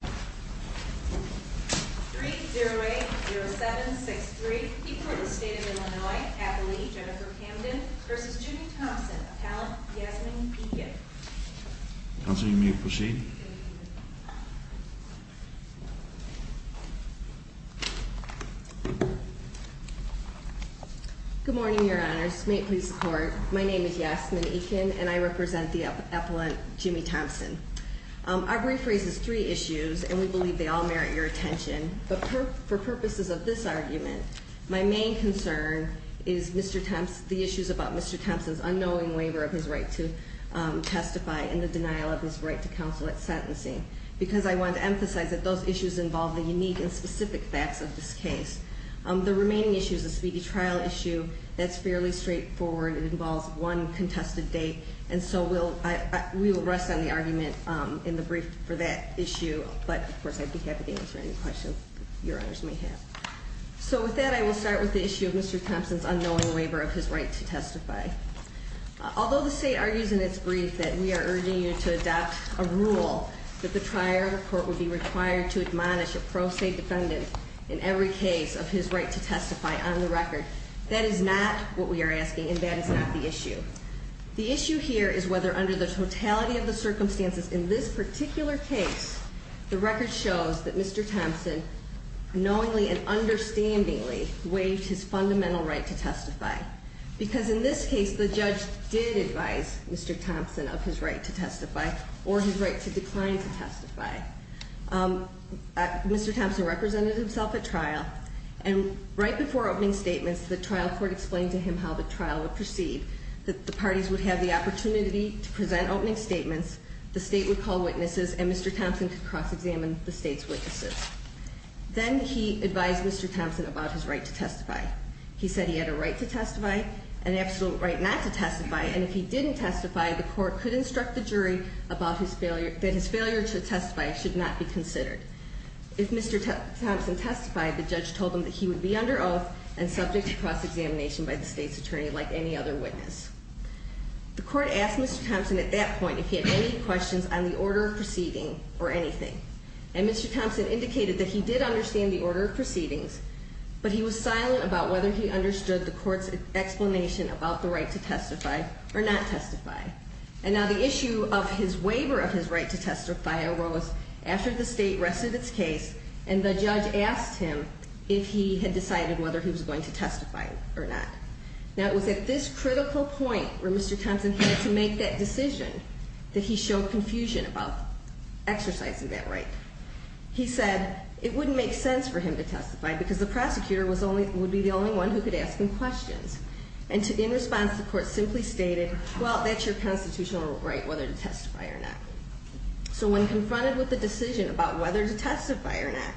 3-0-8-0-7-6-3. The Court of the State of Illinois, Appellee Jennifer Camden v. Jimmy Thompson, Appellant Yasmin Eakin. Counsel, you may proceed. Good morning, Your Honors. May it please the Court, my name is Yasmin Eakin and I represent the Appellant Jimmy Thompson. Our brief raises three issues and we believe they all merit your attention. But for purposes of this argument, my main concern is the issues about Mr. Thompson's unknowing waiver of his right to testify and the denial of his right to counsel at sentencing. Because I want to emphasize that those issues involve the unique and specific facts of this case. The remaining issue is a speedy trial issue that's fairly straightforward. It involves one contested date. And so we'll rest on the argument in the brief for that issue. But of course, I'd be happy to answer any questions Your Honors may have. So with that, I will start with the issue of Mr. Thompson's unknowing waiver of his right to testify. Although the state argues in its brief that we are urging you to adopt a rule that the triartic court would be required to admonish a pro se defendant in every case of his right to testify on the record. That is not what we are asking and that is not the issue. The issue here is whether under the totality of the circumstances in this particular case, the record shows that Mr. Thompson knowingly and understandingly waived his fundamental right to testify. Because in this case, the judge did advise Mr. Thompson of his right to testify or his right to decline to testify. Mr. Thompson represented himself at trial. And right before opening statements, the trial court explained to him how the trial would proceed. That the parties would have the opportunity to present opening statements. The state would call witnesses and Mr. Thompson could cross examine the state's witnesses. He said he had a right to testify, an absolute right not to testify. And if he didn't testify, the court could instruct the jury that his failure to testify should not be considered. If Mr. Thompson testified, the judge told him that he would be under oath and subject to cross examination by the state's attorney like any other witness. The court asked Mr. Thompson at that point if he had any questions on the order of proceeding or anything. And Mr. Thompson indicated that he did understand the order of proceedings. But he was silent about whether he understood the court's explanation about the right to testify or not testify. And now the issue of his waiver of his right to testify arose after the state rested its case. And the judge asked him if he had decided whether he was going to testify or not. Now it was at this critical point where Mr. Thompson had to make that decision that he showed confusion about exercising that right. He said it wouldn't make sense for him to testify because the prosecutor would be the only one who could ask him questions. And in response, the court simply stated, well, that's your constitutional right whether to testify or not. So when confronted with the decision about whether to testify or not,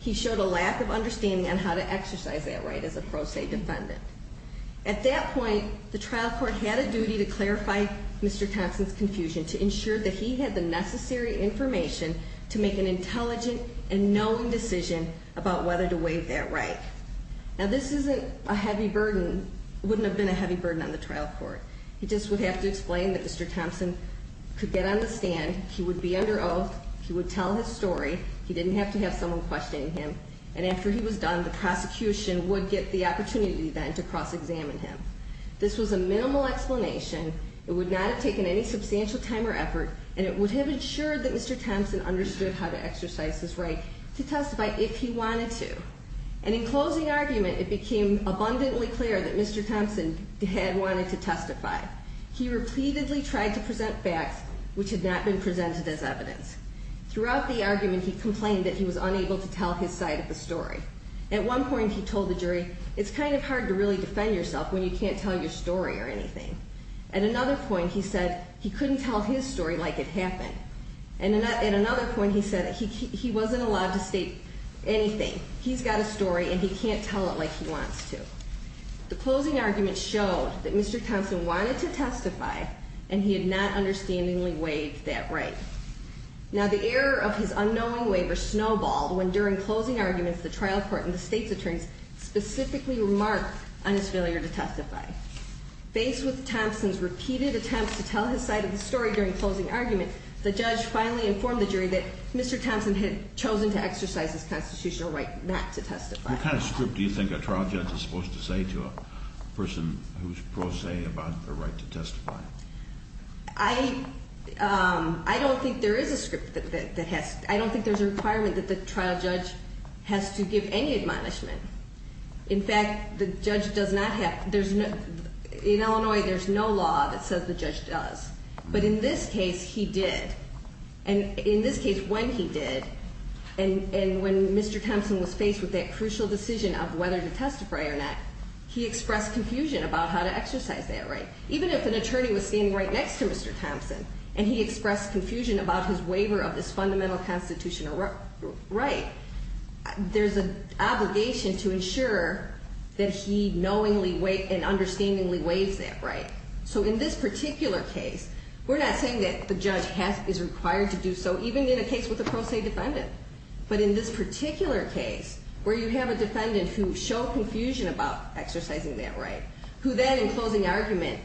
he showed a lack of understanding on how to exercise that right as a pro se defendant. At that point, the trial court had a duty to clarify Mr. Thompson's confusion to ensure that he had the necessary information to make an intelligent and knowing decision about whether to waive that right. Now this isn't a heavy burden, wouldn't have been a heavy burden on the trial court. He just would have to explain that Mr. Thompson could get on the stand, he would be under oath, he would tell his story, he didn't have to have someone questioning him. And after he was done, the prosecution would get the opportunity then to cross-examine him. This was a minimal explanation, it would not have taken any substantial time or effort, and it would have ensured that Mr. Thompson understood how to exercise his right to testify if he wanted to. And in closing argument, it became abundantly clear that Mr. Thompson had wanted to testify. He repeatedly tried to present facts which had not been presented as evidence. Throughout the argument, he complained that he was unable to tell his side of the story. At one point, he told the jury, it's kind of hard to really defend yourself when you can't tell your story or anything. At another point, he said he couldn't tell his story like it happened. And at another point, he said he wasn't allowed to state anything. He's got a story and he can't tell it like he wants to. The closing argument showed that Mr. Thompson wanted to testify and he had not understandingly waived that right. Now, the error of his unknowing waiver snowballed when during closing arguments, the trial court and the state's attorneys specifically remarked on his failure to testify. Based with Thompson's repeated attempts to tell his side of the story during closing argument, the judge finally informed the jury that Mr. Thompson had chosen to exercise his constitutional right not to testify. What kind of script do you think a trial judge is supposed to say to a person who's pro se about the right to testify? I don't think there is a script that has. I don't think there's a requirement that the trial judge has to give any admonishment. In fact, the judge does not have. In Illinois, there's no law that says the judge does. But in this case, he did. And in this case, when he did, and when Mr. Thompson was faced with that crucial decision of whether to testify or not, he expressed confusion about how to exercise that right. Even if an attorney was standing right next to Mr. Thompson, and he expressed confusion about his waiver of his fundamental constitutional right, there's an obligation to ensure that he knowingly and understandingly waives that right. So in this particular case, we're not saying that the judge is required to do so, even in a case with a pro se defendant. But in this particular case, where you have a defendant who showed confusion about exercising that right, who then, in closing argument,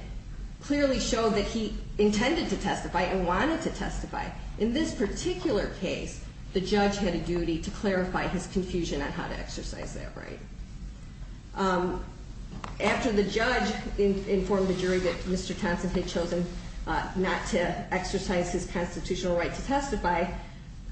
clearly showed that he intended to testify and wanted to testify, in this particular case, the judge had a duty to clarify his confusion on how to exercise that right. After the judge informed the jury that Mr. Thompson had chosen not to exercise his constitutional right to testify,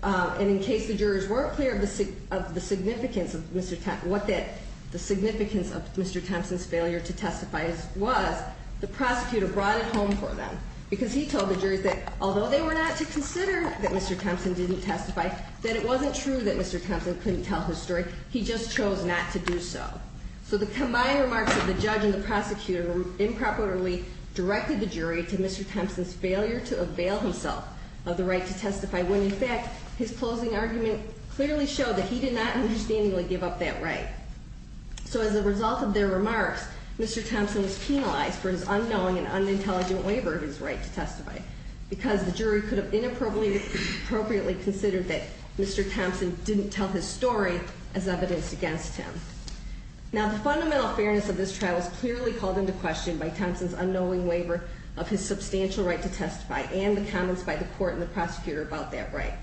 and in case the jurors weren't clear of the significance of Mr. Thompson, what the significance of Mr. Thompson's failure to testify was, the prosecutor brought it home for them. Because he told the jurors that although they were not to consider that Mr. Thompson didn't testify, that it wasn't true that Mr. Thompson couldn't tell his story. He just chose not to do so. So the combined remarks of the judge and the prosecutor improperly directed the jury to Mr. Thompson's failure to avail himself of the right to testify, when in fact, his closing argument clearly showed that he did not understandably give up that right. So as a result of their remarks, Mr. Thompson was penalized for his unknowing and unintelligent waiver of his right to testify. Because the jury could have inappropriately considered that Mr. Thompson didn't tell his story as evidence against him. Now the fundamental fairness of this trial was clearly called into question by Thompson's unknowing waiver of his substantial right to testify and the comments by the court and the prosecutor about that right.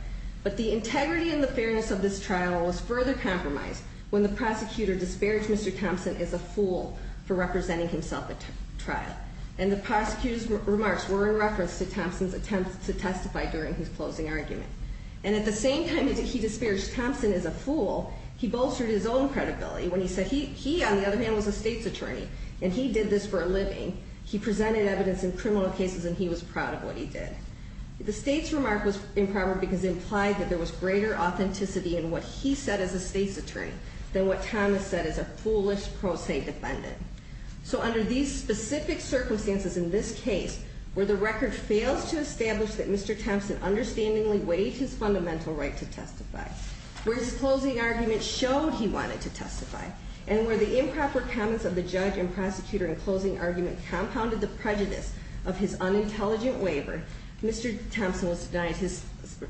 But the integrity and the fairness of this trial was further compromised when the prosecutor disparaged Mr. Thompson as a fool for representing himself at trial. And the prosecutor's remarks were in reference to Thompson's attempt to testify during his closing argument. And at the same time that he disparaged Thompson as a fool, he bolstered his own credibility when he said he, on the other hand, was a state's attorney and he did this for a living. He presented evidence in criminal cases and he was proud of what he did. The state's remark was improper because it implied that there was greater authenticity in what he said as a state's attorney than what Thomas said as a foolish pro se defendant. So under these specific circumstances in this case, where the record fails to establish that Mr. Thompson understandingly waived his fundamental right to testify, where his closing argument showed he wanted to testify, and where the improper comments of the judge and prosecutor in closing argument compounded the prejudice of his unintelligent waiver, Mr. Thompson was denied his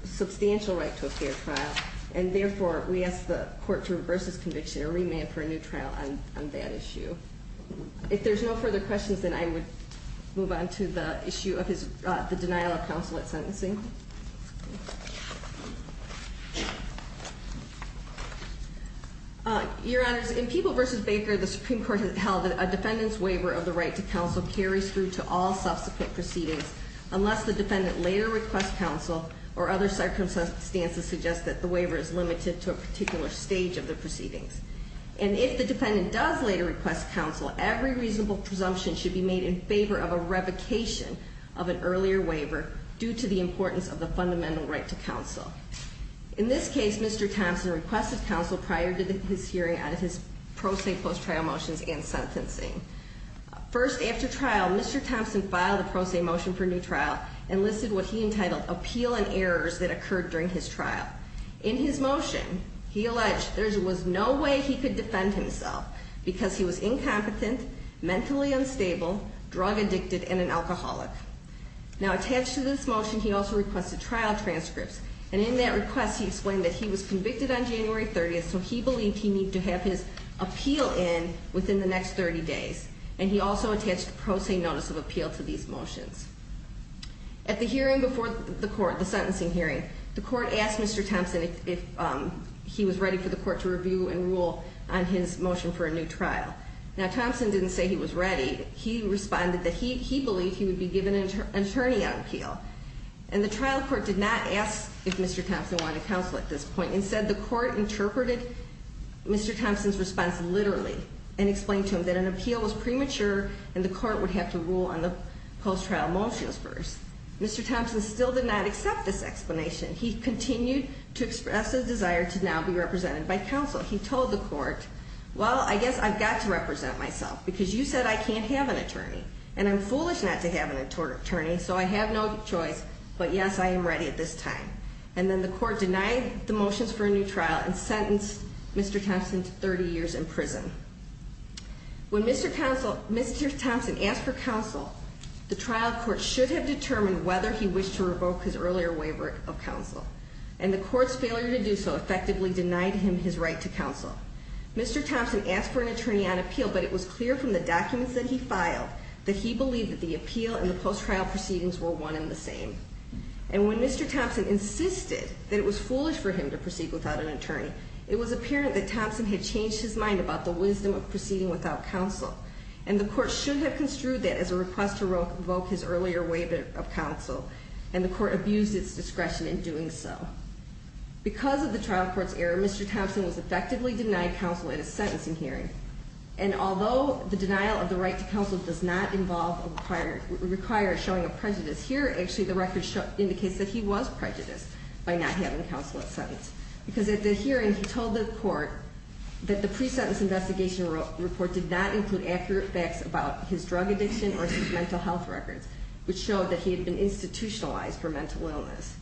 substantial right to a fair trial. And therefore, we ask the court to reverse this conviction or remand for a new trial on that issue. If there's no further questions, then I would move on to the issue of the denial of counsel at sentencing. Your Honors, in People v. Baker, the Supreme Court has held that a defendant's waiver of the right to counsel carries through to all subsequent proceedings unless the defendant later requests counsel or other circumstances suggest that the waiver is limited to a particular stage of the proceedings. And if the defendant does later request counsel, every reasonable presumption should be made in favor of a revocation of an earlier waiver due to the importance of the fundamental right to counsel. In this case, Mr. Thompson requested counsel prior to his hearing on his pro se post-trial motions and sentencing. First, after trial, Mr. Thompson filed a pro se motion for new trial and listed what he entitled appeal and errors that occurred during his trial. In his motion, he alleged there was no way he could defend himself because he was incompetent, mentally unstable, drug addicted, and an alcoholic. Now, attached to this motion, he also requested trial transcripts. And in that request, he explained that he was convicted on January 30th, so he believed he needed to have his appeal in within the next 30 days. And he also attached a pro se notice of appeal to these motions. At the hearing before the court, the sentencing hearing, the court asked Mr. Thompson if he was ready for the court to review and rule on his motion for a new trial. Now, Thompson didn't say he was ready. He responded that he believed he would be given an attorney on appeal. And the trial court did not ask if Mr. Thompson wanted counsel at this point. Instead, the court interpreted Mr. Thompson's response literally and explained to him that an appeal was premature and the court would have to rule on the post-trial motions first. Mr. Thompson still did not accept this explanation. He continued to express a desire to now be represented by counsel. He told the court, well, I guess I've got to represent myself because you said I can't have an attorney, and I'm foolish not to have an attorney, so I have no choice, but, yes, I am ready at this time. And then the court denied the motions for a new trial and sentenced Mr. Thompson to 30 years in prison. When Mr. Thompson asked for counsel, the trial court should have determined whether he wished to revoke his earlier waiver of counsel, and the court's failure to do so effectively denied him his right to counsel. Mr. Thompson asked for an attorney on appeal, but it was clear from the documents that he filed that he believed that the appeal and the post-trial proceedings were one and the same. And when Mr. Thompson insisted that it was foolish for him to proceed without an attorney, it was apparent that Thompson had changed his mind about the wisdom of proceeding without counsel, and the court should have construed that as a request to revoke his earlier waiver of counsel, and the court abused its discretion in doing so. Because of the trial court's error, Mr. Thompson was effectively denied counsel in a sentencing hearing, and although the denial of the right to counsel does not require showing a prejudice, here actually the record indicates that he was prejudiced by not having counsel at sentence. Because at the hearing, he told the court that the pre-sentence investigation report did not include accurate facts about his drug addiction or his mental health records, which showed that he had been institutionalized for mental illness.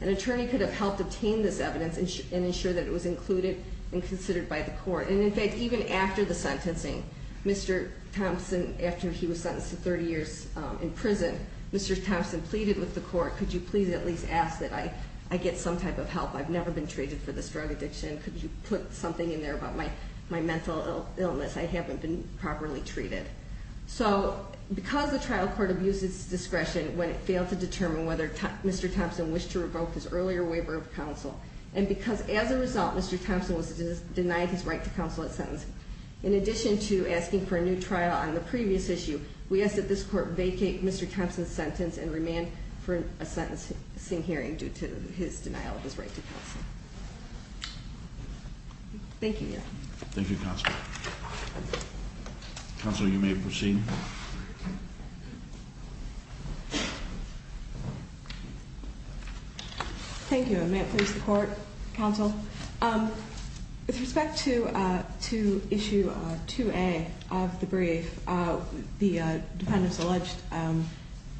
An attorney could have helped obtain this evidence and ensure that it was included and considered by the court. And in fact, even after the sentencing, Mr. Thompson, after he was sentenced to 30 years in prison, Mr. Thompson pleaded with the court, could you please at least ask that I get some type of help? I've never been treated for this drug addiction. Could you put something in there about my mental illness? I haven't been properly treated. So because the trial court abused its discretion when it failed to determine whether Mr. Thompson wished to revoke his earlier waiver of counsel, and because as a result Mr. Thompson was denied his right to counsel at sentence, in addition to asking for a new trial on the previous issue, we ask that this court vacate Mr. Thompson's sentence and remand for a sentencing hearing due to his denial of his right to counsel. Thank you, Your Honor. Thank you, Counselor. Counselor, you may proceed. Thank you, and may it please the Court, Counsel. With respect to issue 2A of the brief, the defendant's alleged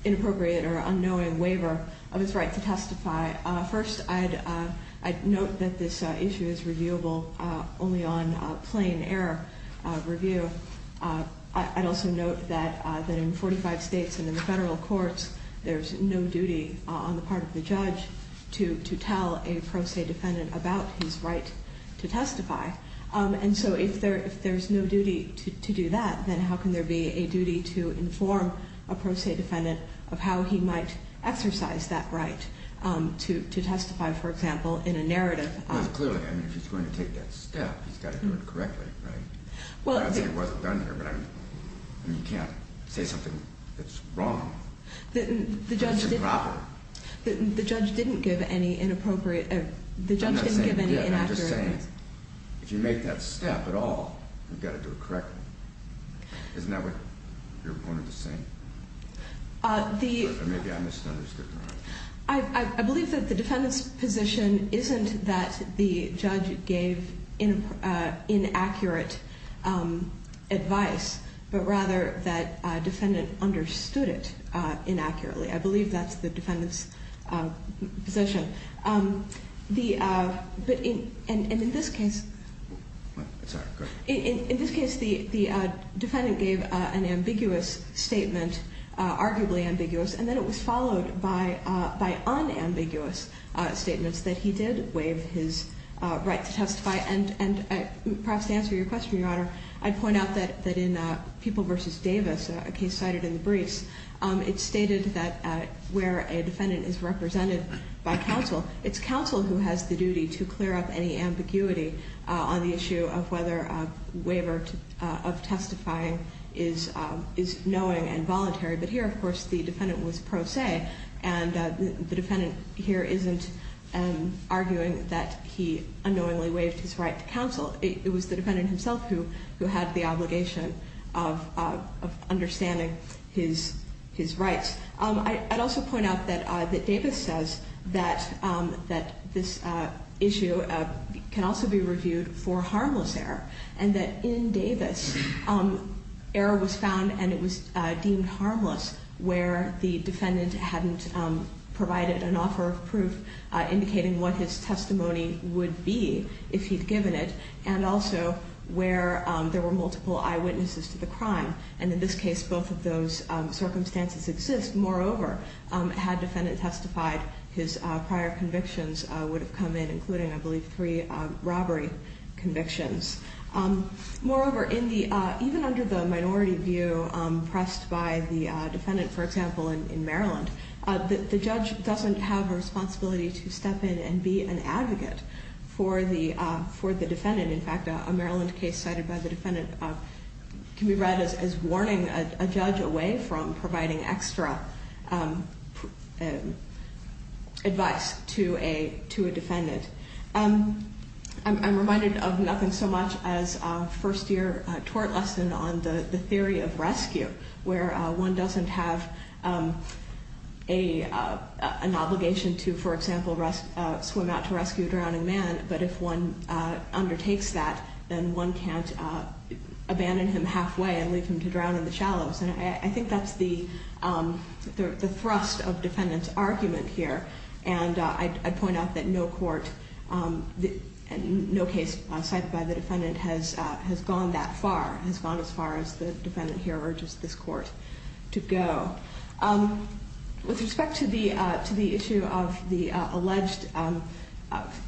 inappropriate or unknowing waiver of his right to testify. First, I'd note that this issue is reviewable only on plain error review. I'd also note that in 45 states and in the federal courts, there's no duty on the part of the judge to tell a pro se defendant about his right to testify. And so if there's no duty to do that, then how can there be a duty to inform a pro se defendant of how he might exercise that right to testify, for example, in a narrative? Well, clearly, I mean, if he's going to take that step, he's got to do it correctly, right? I'd say it wasn't done here, but I mean, you can't say something that's wrong. It's improper. The judge didn't give any inappropriate or the judge didn't give any inaccurate. I'm just saying, if you make that step at all, you've got to do it correctly. Isn't that what your opponent is saying? Or maybe I misunderstood, Your Honor. I believe that the defendant's position isn't that the judge gave inaccurate advice, but rather that a defendant understood it inaccurately. I believe that's the defendant's position. But in this case, the defendant gave an ambiguous statement, arguably ambiguous, and then it was followed by unambiguous statements that he did waive his right to testify. And perhaps to answer your question, Your Honor, I'd point out that in People v. Davis, a case cited in the briefs, it stated that where a defendant is represented by counsel, it's counsel who has the duty to clear up any ambiguity on the issue of whether a waiver of testifying is knowing and voluntary. But here, of course, the defendant was pro se, and the defendant here isn't arguing that he unknowingly waived his right to counsel. It was the defendant himself who had the obligation of understanding his rights. I'd also point out that Davis says that this issue can also be reviewed for harmless error, and that in Davis, error was found and it was deemed harmless where the defendant hadn't provided an offer of proof indicating what his testimony would be if he'd given it, and also where there were multiple eyewitnesses to the crime. And in this case, both of those circumstances exist. Moreover, had defendant testified, his prior convictions would have come in, including, I believe, three robbery convictions. Moreover, even under the minority view pressed by the defendant, for example, in Maryland, the judge doesn't have a responsibility to step in and be an advocate for the defendant. In fact, a Maryland case cited by the defendant can be read as warning a judge away from providing extra advice to a defendant. I'm reminded of nothing so much as a first year tort lesson on the theory of rescue, where one doesn't have an obligation to, for example, swim out to rescue a drowning man, but if one undertakes that, then one can't abandon him halfway and leave him to drown in the shallows. And I think that's the thrust of defendant's argument here. And I'd point out that no court, no case cited by the defendant has gone that far, has gone as far as the defendant here urges this court to go. With respect to the issue of the alleged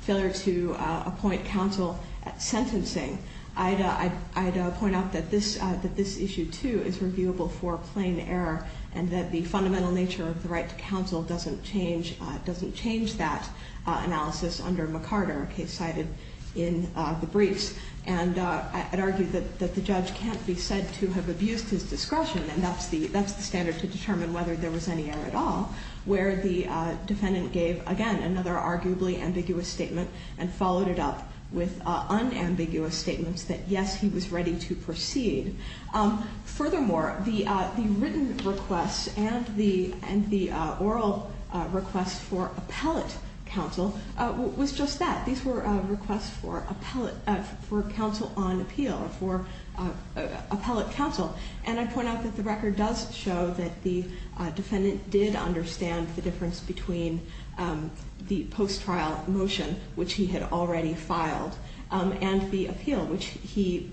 failure to appoint counsel sentencing, I'd point out that this issue, too, is reviewable for plain error, and that the fundamental nature of the right to counsel doesn't change that analysis under McCarter, a case cited in the briefs. And I'd argue that the judge can't be said to have abused his discretion, and that's the standard to determine whether there was any error at all, where the defendant gave, again, another arguably ambiguous statement and followed it up with unambiguous statements that, yes, he was ready to proceed. Furthermore, the written requests and the oral requests for appellate counsel was just that. These were requests for counsel on appeal or for appellate counsel. And I'd point out that the record does show that the defendant did understand the difference between the post-trial motion, which he had already filed, and the appeal, which he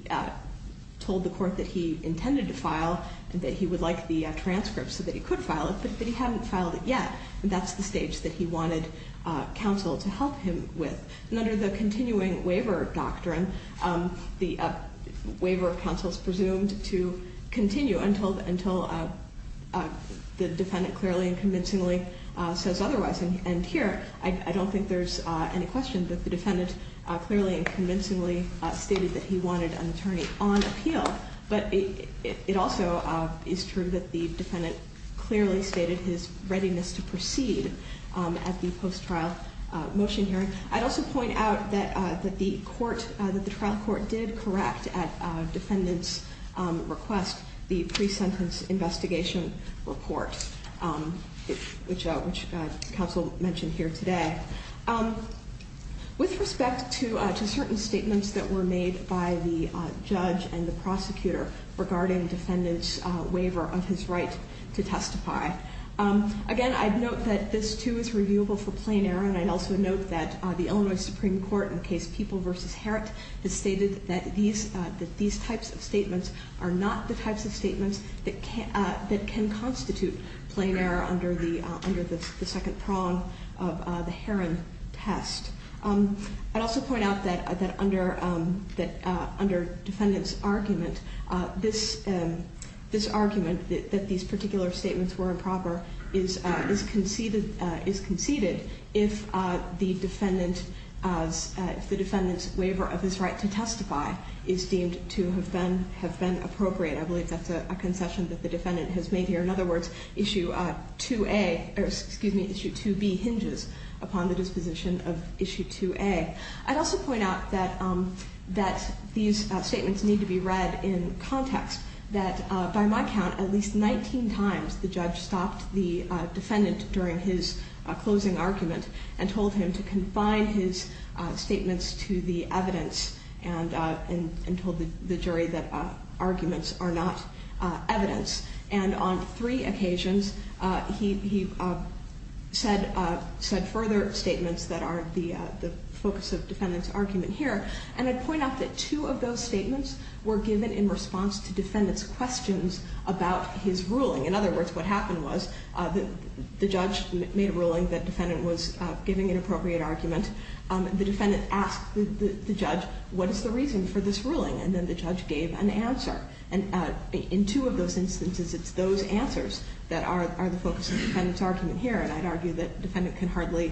told the court that he intended to file and that he would like the transcript so that he could file it, but he hadn't filed it yet. And that's the stage that he wanted counsel to help him with. And under the continuing waiver doctrine, the waiver of counsel is presumed to continue until the defendant clearly and convincingly says otherwise. And here, I don't think there's any question that the defendant clearly and convincingly stated that he wanted an attorney on appeal. But it also is true that the defendant clearly stated his readiness to proceed at the post-trial motion hearing. I'd also point out that the trial court did correct at defendant's request the pre-sentence investigation report, which counsel mentioned here today. With respect to certain statements that were made by the judge and the prosecutor regarding defendant's waiver of his right to testify, again, I'd note that this, too, is reviewable for plain error, and I'd also note that the Illinois Supreme Court in the case People v. Herent has stated that these types of statements are not the types of statements that can constitute plain error under the second prong of the Herent test. I'd also point out that under defendant's argument, this argument that these particular statements were improper is conceded if the defendant's waiver of his right to testify is deemed to have been appropriate. I believe that's a concession that the defendant has made here. In other words, Issue 2A or, excuse me, Issue 2B hinges upon the disposition of Issue 2A. I'd also point out that these statements need to be read in context, that by my count, at least 19 times the judge stopped the defendant during his closing argument and told him to confine his statements to the evidence and told the jury that arguments are not evidence. And on three occasions, he said further statements that are the focus of defendant's argument here, and I'd point out that two of those statements were given in response to defendant's questions about his ruling. In other words, what happened was the judge made a ruling that defendant was giving an appropriate argument. The defendant asked the judge, what is the reason for this ruling? And then the judge gave an answer. And in two of those instances, it's those answers that are the focus of defendant's argument here, and I'd argue that defendant can hardly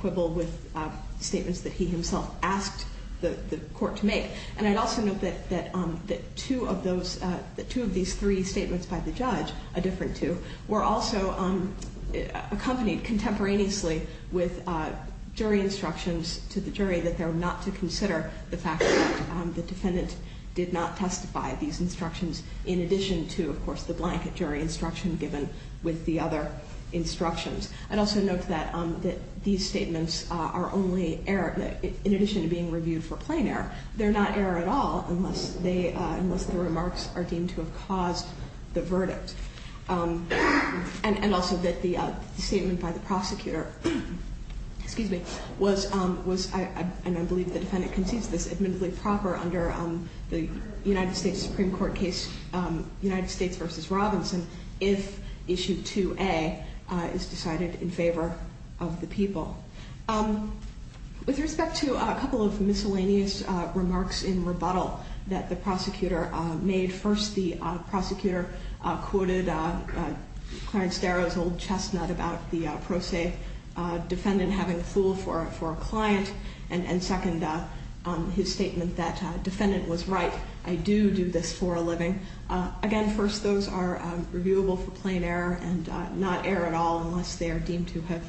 quibble with statements that he himself asked the court to make. And I'd also note that two of these three statements by the judge, a different two, were also accompanied contemporaneously with jury instructions to the jury that they're not to consider the fact that the defendant did not testify. These instructions, in addition to, of course, the blanket jury instruction given with the other instructions. I'd also note that these statements are only, in addition to being reviewed for plain error, they're not error at all unless the remarks are deemed to have caused the verdict. And also that the statement by the prosecutor was, and I believe the defendant concedes this, admittedly proper under the United States Supreme Court case United States v. Robinson if issue 2A is decided in favor of the people. With respect to a couple of miscellaneous remarks in rebuttal that the prosecutor made, first, the prosecutor quoted Clarence Darrow's old chestnut about the pro se defendant having a fool for a client, and second, his statement that defendant was right, I do do this for a living. Again, first, those are reviewable for plain error and not error at all unless they are deemed to have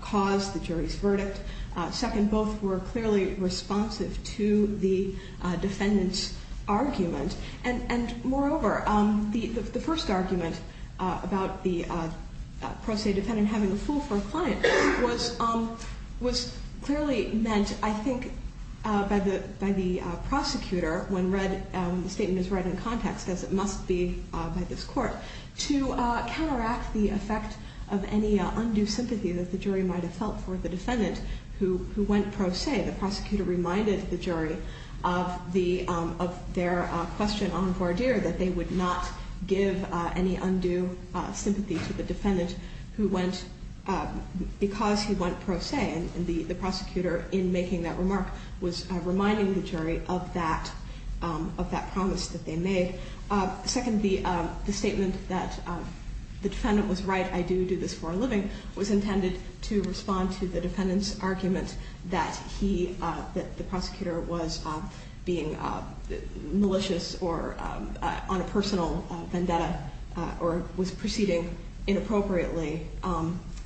caused the jury's verdict. Second, both were clearly responsive to the defendant's argument. And moreover, the first argument about the pro se defendant having a fool for a client was clearly meant, I think, by the prosecutor when the statement is read in context, as it must be by this court, to counteract the effect of any undue sympathy that the jury might have felt for the defendant who went pro se. The prosecutor reminded the jury of their question on Gordier that they would not give any undue sympathy to the defendant because he went pro se. And the prosecutor, in making that remark, was reminding the jury of that promise that they made. Second, the statement that the defendant was right, I do do this for a living, was intended to respond to the defendant's argument that the prosecutor was being malicious or on a personal vendetta or was proceeding inappropriately.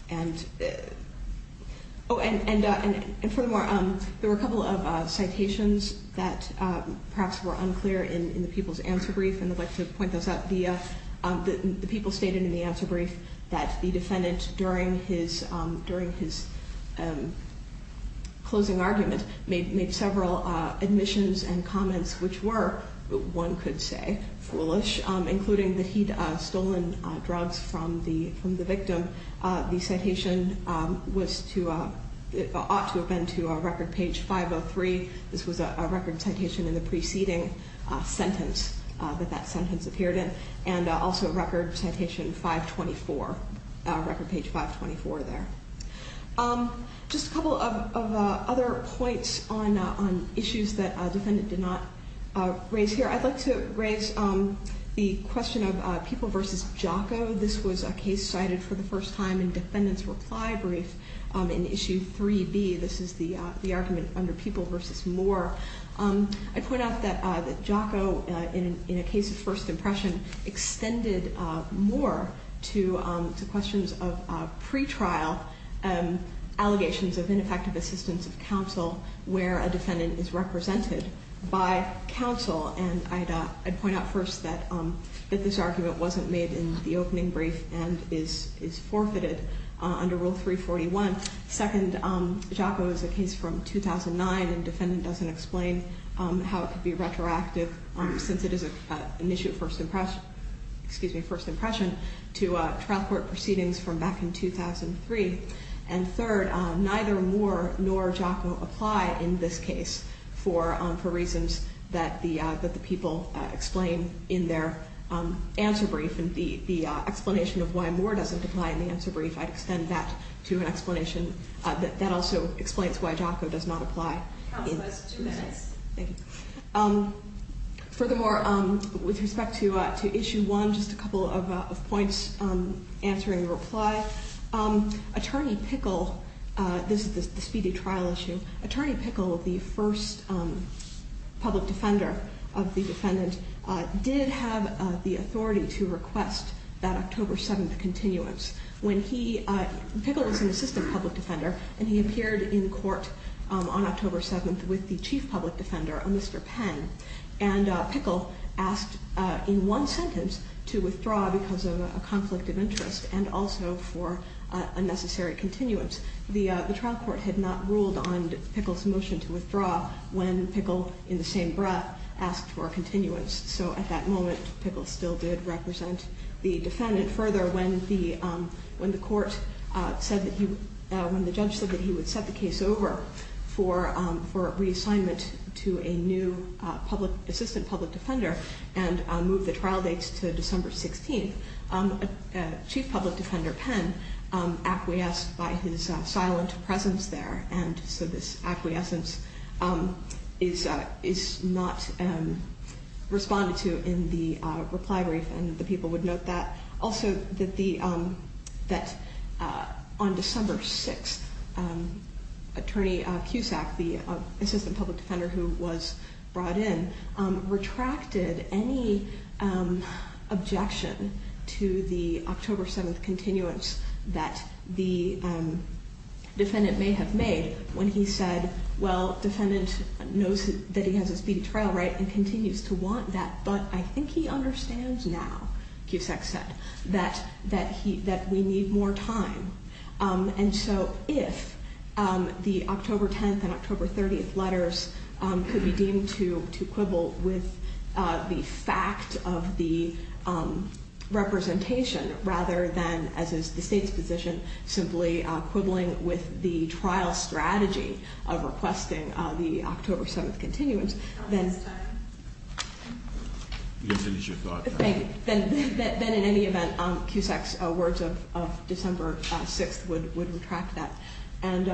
And furthermore, there were a couple of citations that perhaps were unclear in the people's answer brief, and I'd like to point those out. The people stated in the answer brief that the defendant, during his closing argument, made several admissions and comments which were, one could say, foolish, including that he'd stolen drugs from the victim. The citation ought to have been to record page 503. This was a record citation in the preceding sentence that that sentence appeared in, and also record citation 524, record page 524 there. Just a couple of other points on issues that the defendant did not raise here. I'd like to raise the question of People v. Jocko. This was a case cited for the first time in defendant's reply brief in Issue 3B. This is the argument under People v. Moore. I point out that Jocko, in a case of first impression, extended Moore to questions of pretrial allegations of ineffective assistance of counsel where a defendant is represented by counsel, and I'd point out first that this argument wasn't made in the opening brief and is forfeited under Rule 341. Second, Jocko is a case from 2009, and defendant doesn't explain how it could be retroactive since it is an issue of first impression to trial court proceedings from back in 2003. And third, neither Moore nor Jocko apply in this case for reasons that the people explain in their answer brief, and the explanation of why Moore doesn't apply in the answer brief, I'd extend that to an explanation that also explains why Jocko does not apply. Counsel has two minutes. Thank you. Furthermore, with respect to Issue 1, just a couple of points answering the reply. Attorney Pickle, this is the speedy trial issue, Attorney Pickle, the first public defender of the defendant, did have the authority to request that October 7th continuance. Pickle is an assistant public defender, and he appeared in court on October 7th with the chief public defender, a Mr. Penn, and Pickle asked in one sentence to withdraw because of a conflict of interest and also for unnecessary continuance. The trial court had not ruled on Pickle's motion to withdraw when Pickle, in the same breath, asked for a continuance. So at that moment, Pickle still did represent the defendant. Further, when the court said that he – when the judge said that he would set the case over for reassignment to a new public – assistant public defender and move the trial dates to December 16th, Chief Public Defender Penn acquiesced by his silent presence there, and so this acquiescence is not responded to in the reply brief, and the people would note that. Also, that the – that on December 6th, Attorney Cusack, the assistant public defender who was brought in, retracted any objection to the October 7th continuance that the defendant may have made when he said, well, defendant knows that he has a speedy trial, right, and continues to want that, but I think he understands now, Cusack said, that he – that we need more time. And so if the October 10th and October 30th letters could be deemed to quibble with the fact of the representation rather than, as is the State's position, simply quibbling with the trial strategy of requesting the October 7th continuance, then – You have finished your thought. Thank you. Then in any event, Cusack's words of December 6th would retract that. And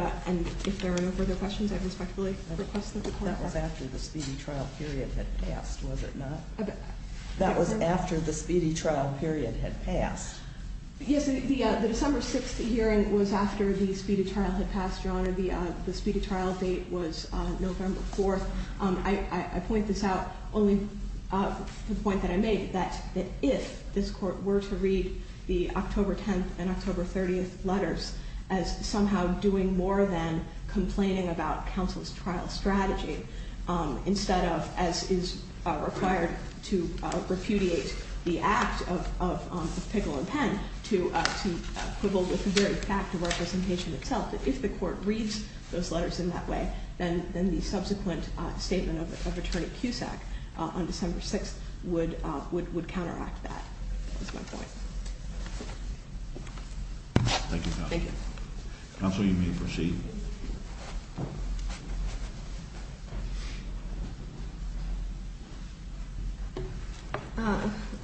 if there are no further questions, I respectfully request that the court – That was after the speedy trial period had passed, was it not? That was after the speedy trial period had passed. Yes, the December 6th hearing was after the speedy trial had passed, Your Honor. The speedy trial date was November 4th. I point this out only for the point that I made, that if this Court were to read the October 10th and October 30th letters as somehow doing more than complaining about counsel's trial strategy instead of, as is required to repudiate the act of Pickle and Penn to quibble with the very fact of representation itself, that if the Court reads those letters in that way, then the subsequent statement of Attorney Cusack on December 6th would counteract that. That's my point. Thank you, counsel. Counsel, you may proceed.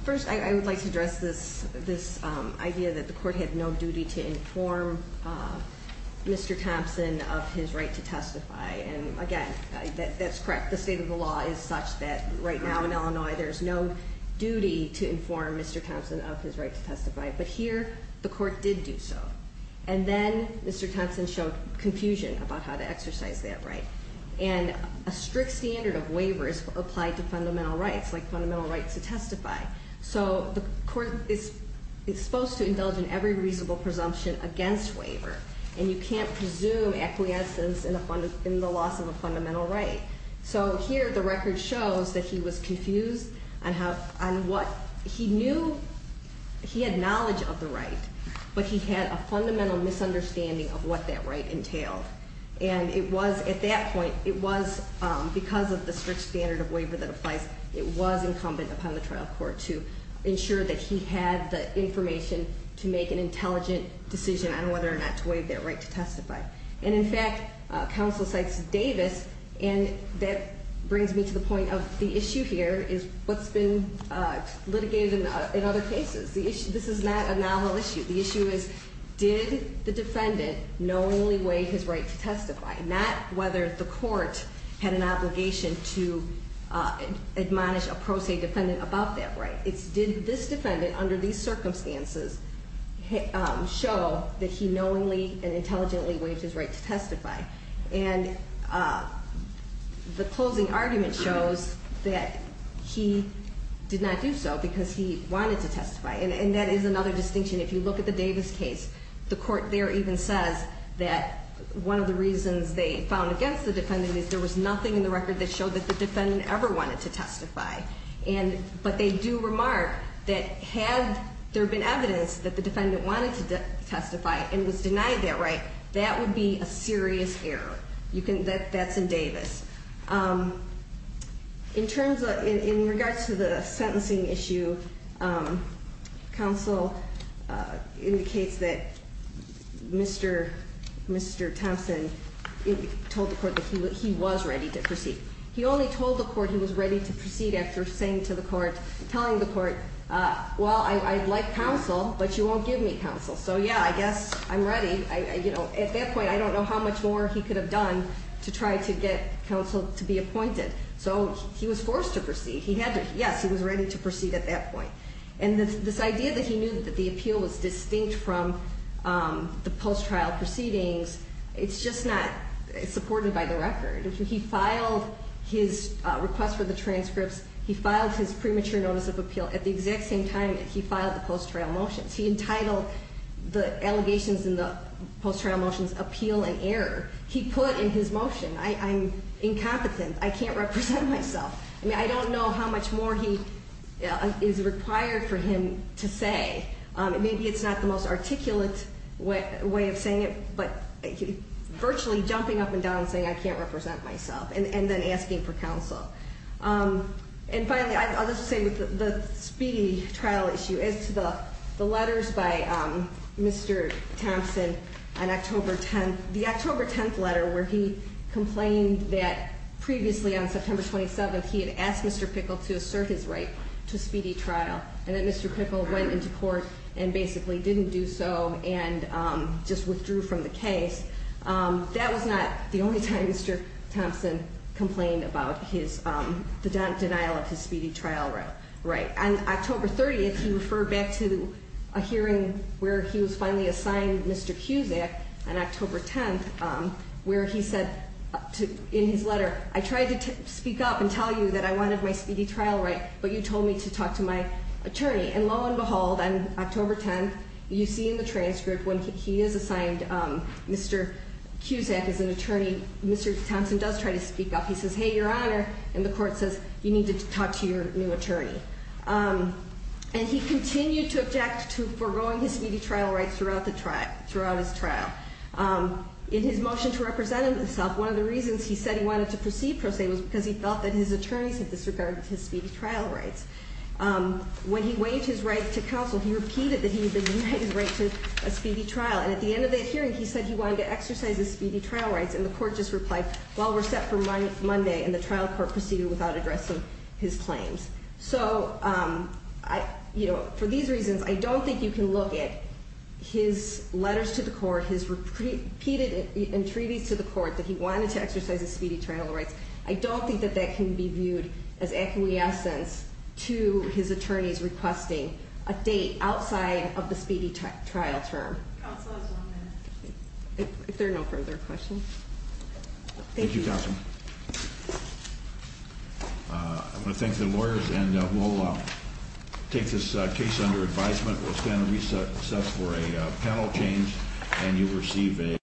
First, I would like to address this idea that the court had no duty to inform Mr. Thompson of his right to testify. And, again, that's correct. The state of the law is such that right now in Illinois there's no duty to inform Mr. Thompson of his right to testify. But here the court did do so. And then Mr. Thompson showed confusion about how to exercise that right. And a strict standard of waiver is applied to fundamental rights, like fundamental rights to testify. So the court is supposed to indulge in every reasonable presumption against waiver. And you can't presume acquiescence in the loss of a fundamental right. So here the record shows that he was confused on what he knew he had knowledge of the right, but he had a fundamental misunderstanding of what that right entailed. And it was at that point, it was because of the strict standard of waiver that applies, it was incumbent upon the trial court to ensure that he had the information to make an intelligent decision on whether or not to waive that right to testify. And, in fact, counsel cites Davis, and that brings me to the point of the issue here is what's been litigated in other cases. This is not a novel issue. The issue is did the defendant knowingly waive his right to testify, not whether the court had an obligation to admonish a pro se defendant about that right. It's did this defendant under these circumstances show that he knowingly and intelligently waived his right to testify. And the closing argument shows that he did not do so because he wanted to testify. And that is another distinction. If you look at the Davis case, the court there even says that one of the reasons they found against the defendant is there was nothing in the record that showed that the defendant ever wanted to testify. But they do remark that had there been evidence that the defendant wanted to testify and was denied that right, that would be a serious error. That's in Davis. In regards to the sentencing issue, counsel indicates that Mr. Thompson told the court that he was ready to proceed. He only told the court he was ready to proceed after saying to the court, telling the court, well, I'd like counsel, but you won't give me counsel. So, yeah, I guess I'm ready. At that point, I don't know how much more he could have done to try to get counsel to be appointed. So he was forced to proceed. Yes, he was ready to proceed at that point. And this idea that he knew that the appeal was distinct from the post-trial proceedings, it's just not supported by the record. He filed his request for the transcripts. He filed his premature notice of appeal at the exact same time that he filed the post-trial motions. He entitled the allegations in the post-trial motions appeal and error. He put in his motion, I'm incompetent. I can't represent myself. I mean, I don't know how much more he is required for him to say. Maybe it's not the most articulate way of saying it, but virtually jumping up and down and saying, I can't represent myself, and then asking for counsel. And finally, I'll just say with the speedy trial issue, as to the letters by Mr. Thompson on October 10th, the October 10th letter where he complained that previously on September 27th, he had asked Mr. Pickle to assert his right to speedy trial, and that Mr. Pickle went into court and basically didn't do so and just withdrew from the case. That was not the only time Mr. Thompson complained about the denial of his speedy trial right. On October 30th, he referred back to a hearing where he was finally assigned Mr. Cusack on October 10th, where he said in his letter, I tried to speak up and tell you that I wanted my speedy trial right, but you told me to talk to my attorney. And lo and behold, on October 10th, you see in the transcript when he is assigned Mr. Cusack as an attorney, Mr. Thompson does try to speak up. He says, hey, your honor, and the court says, you need to talk to your new attorney. And he continued to object to foregoing his speedy trial right throughout his trial. In his motion to represent himself, one of the reasons he said he wanted to proceed, per se, was because he felt that his attorneys had disregarded his speedy trial rights. When he waived his right to counsel, he repeated that he had denied his right to a speedy trial. And at the end of that hearing, he said he wanted to exercise his speedy trial rights, and the court just replied, well, we're set for Monday. And the trial court proceeded without addressing his claims. So for these reasons, I don't think you can look at his letters to the court, his repeated entreaties to the court that he wanted to exercise his speedy trial rights. I don't think that that can be viewed as acquiescence to his attorneys requesting a date outside of the speedy trial term. Counsel has one minute. If there are no further questions. Thank you, Counsel. I want to thank the lawyers, and we'll take this case under advisement. We're going to recess for a panel change, and you'll receive a.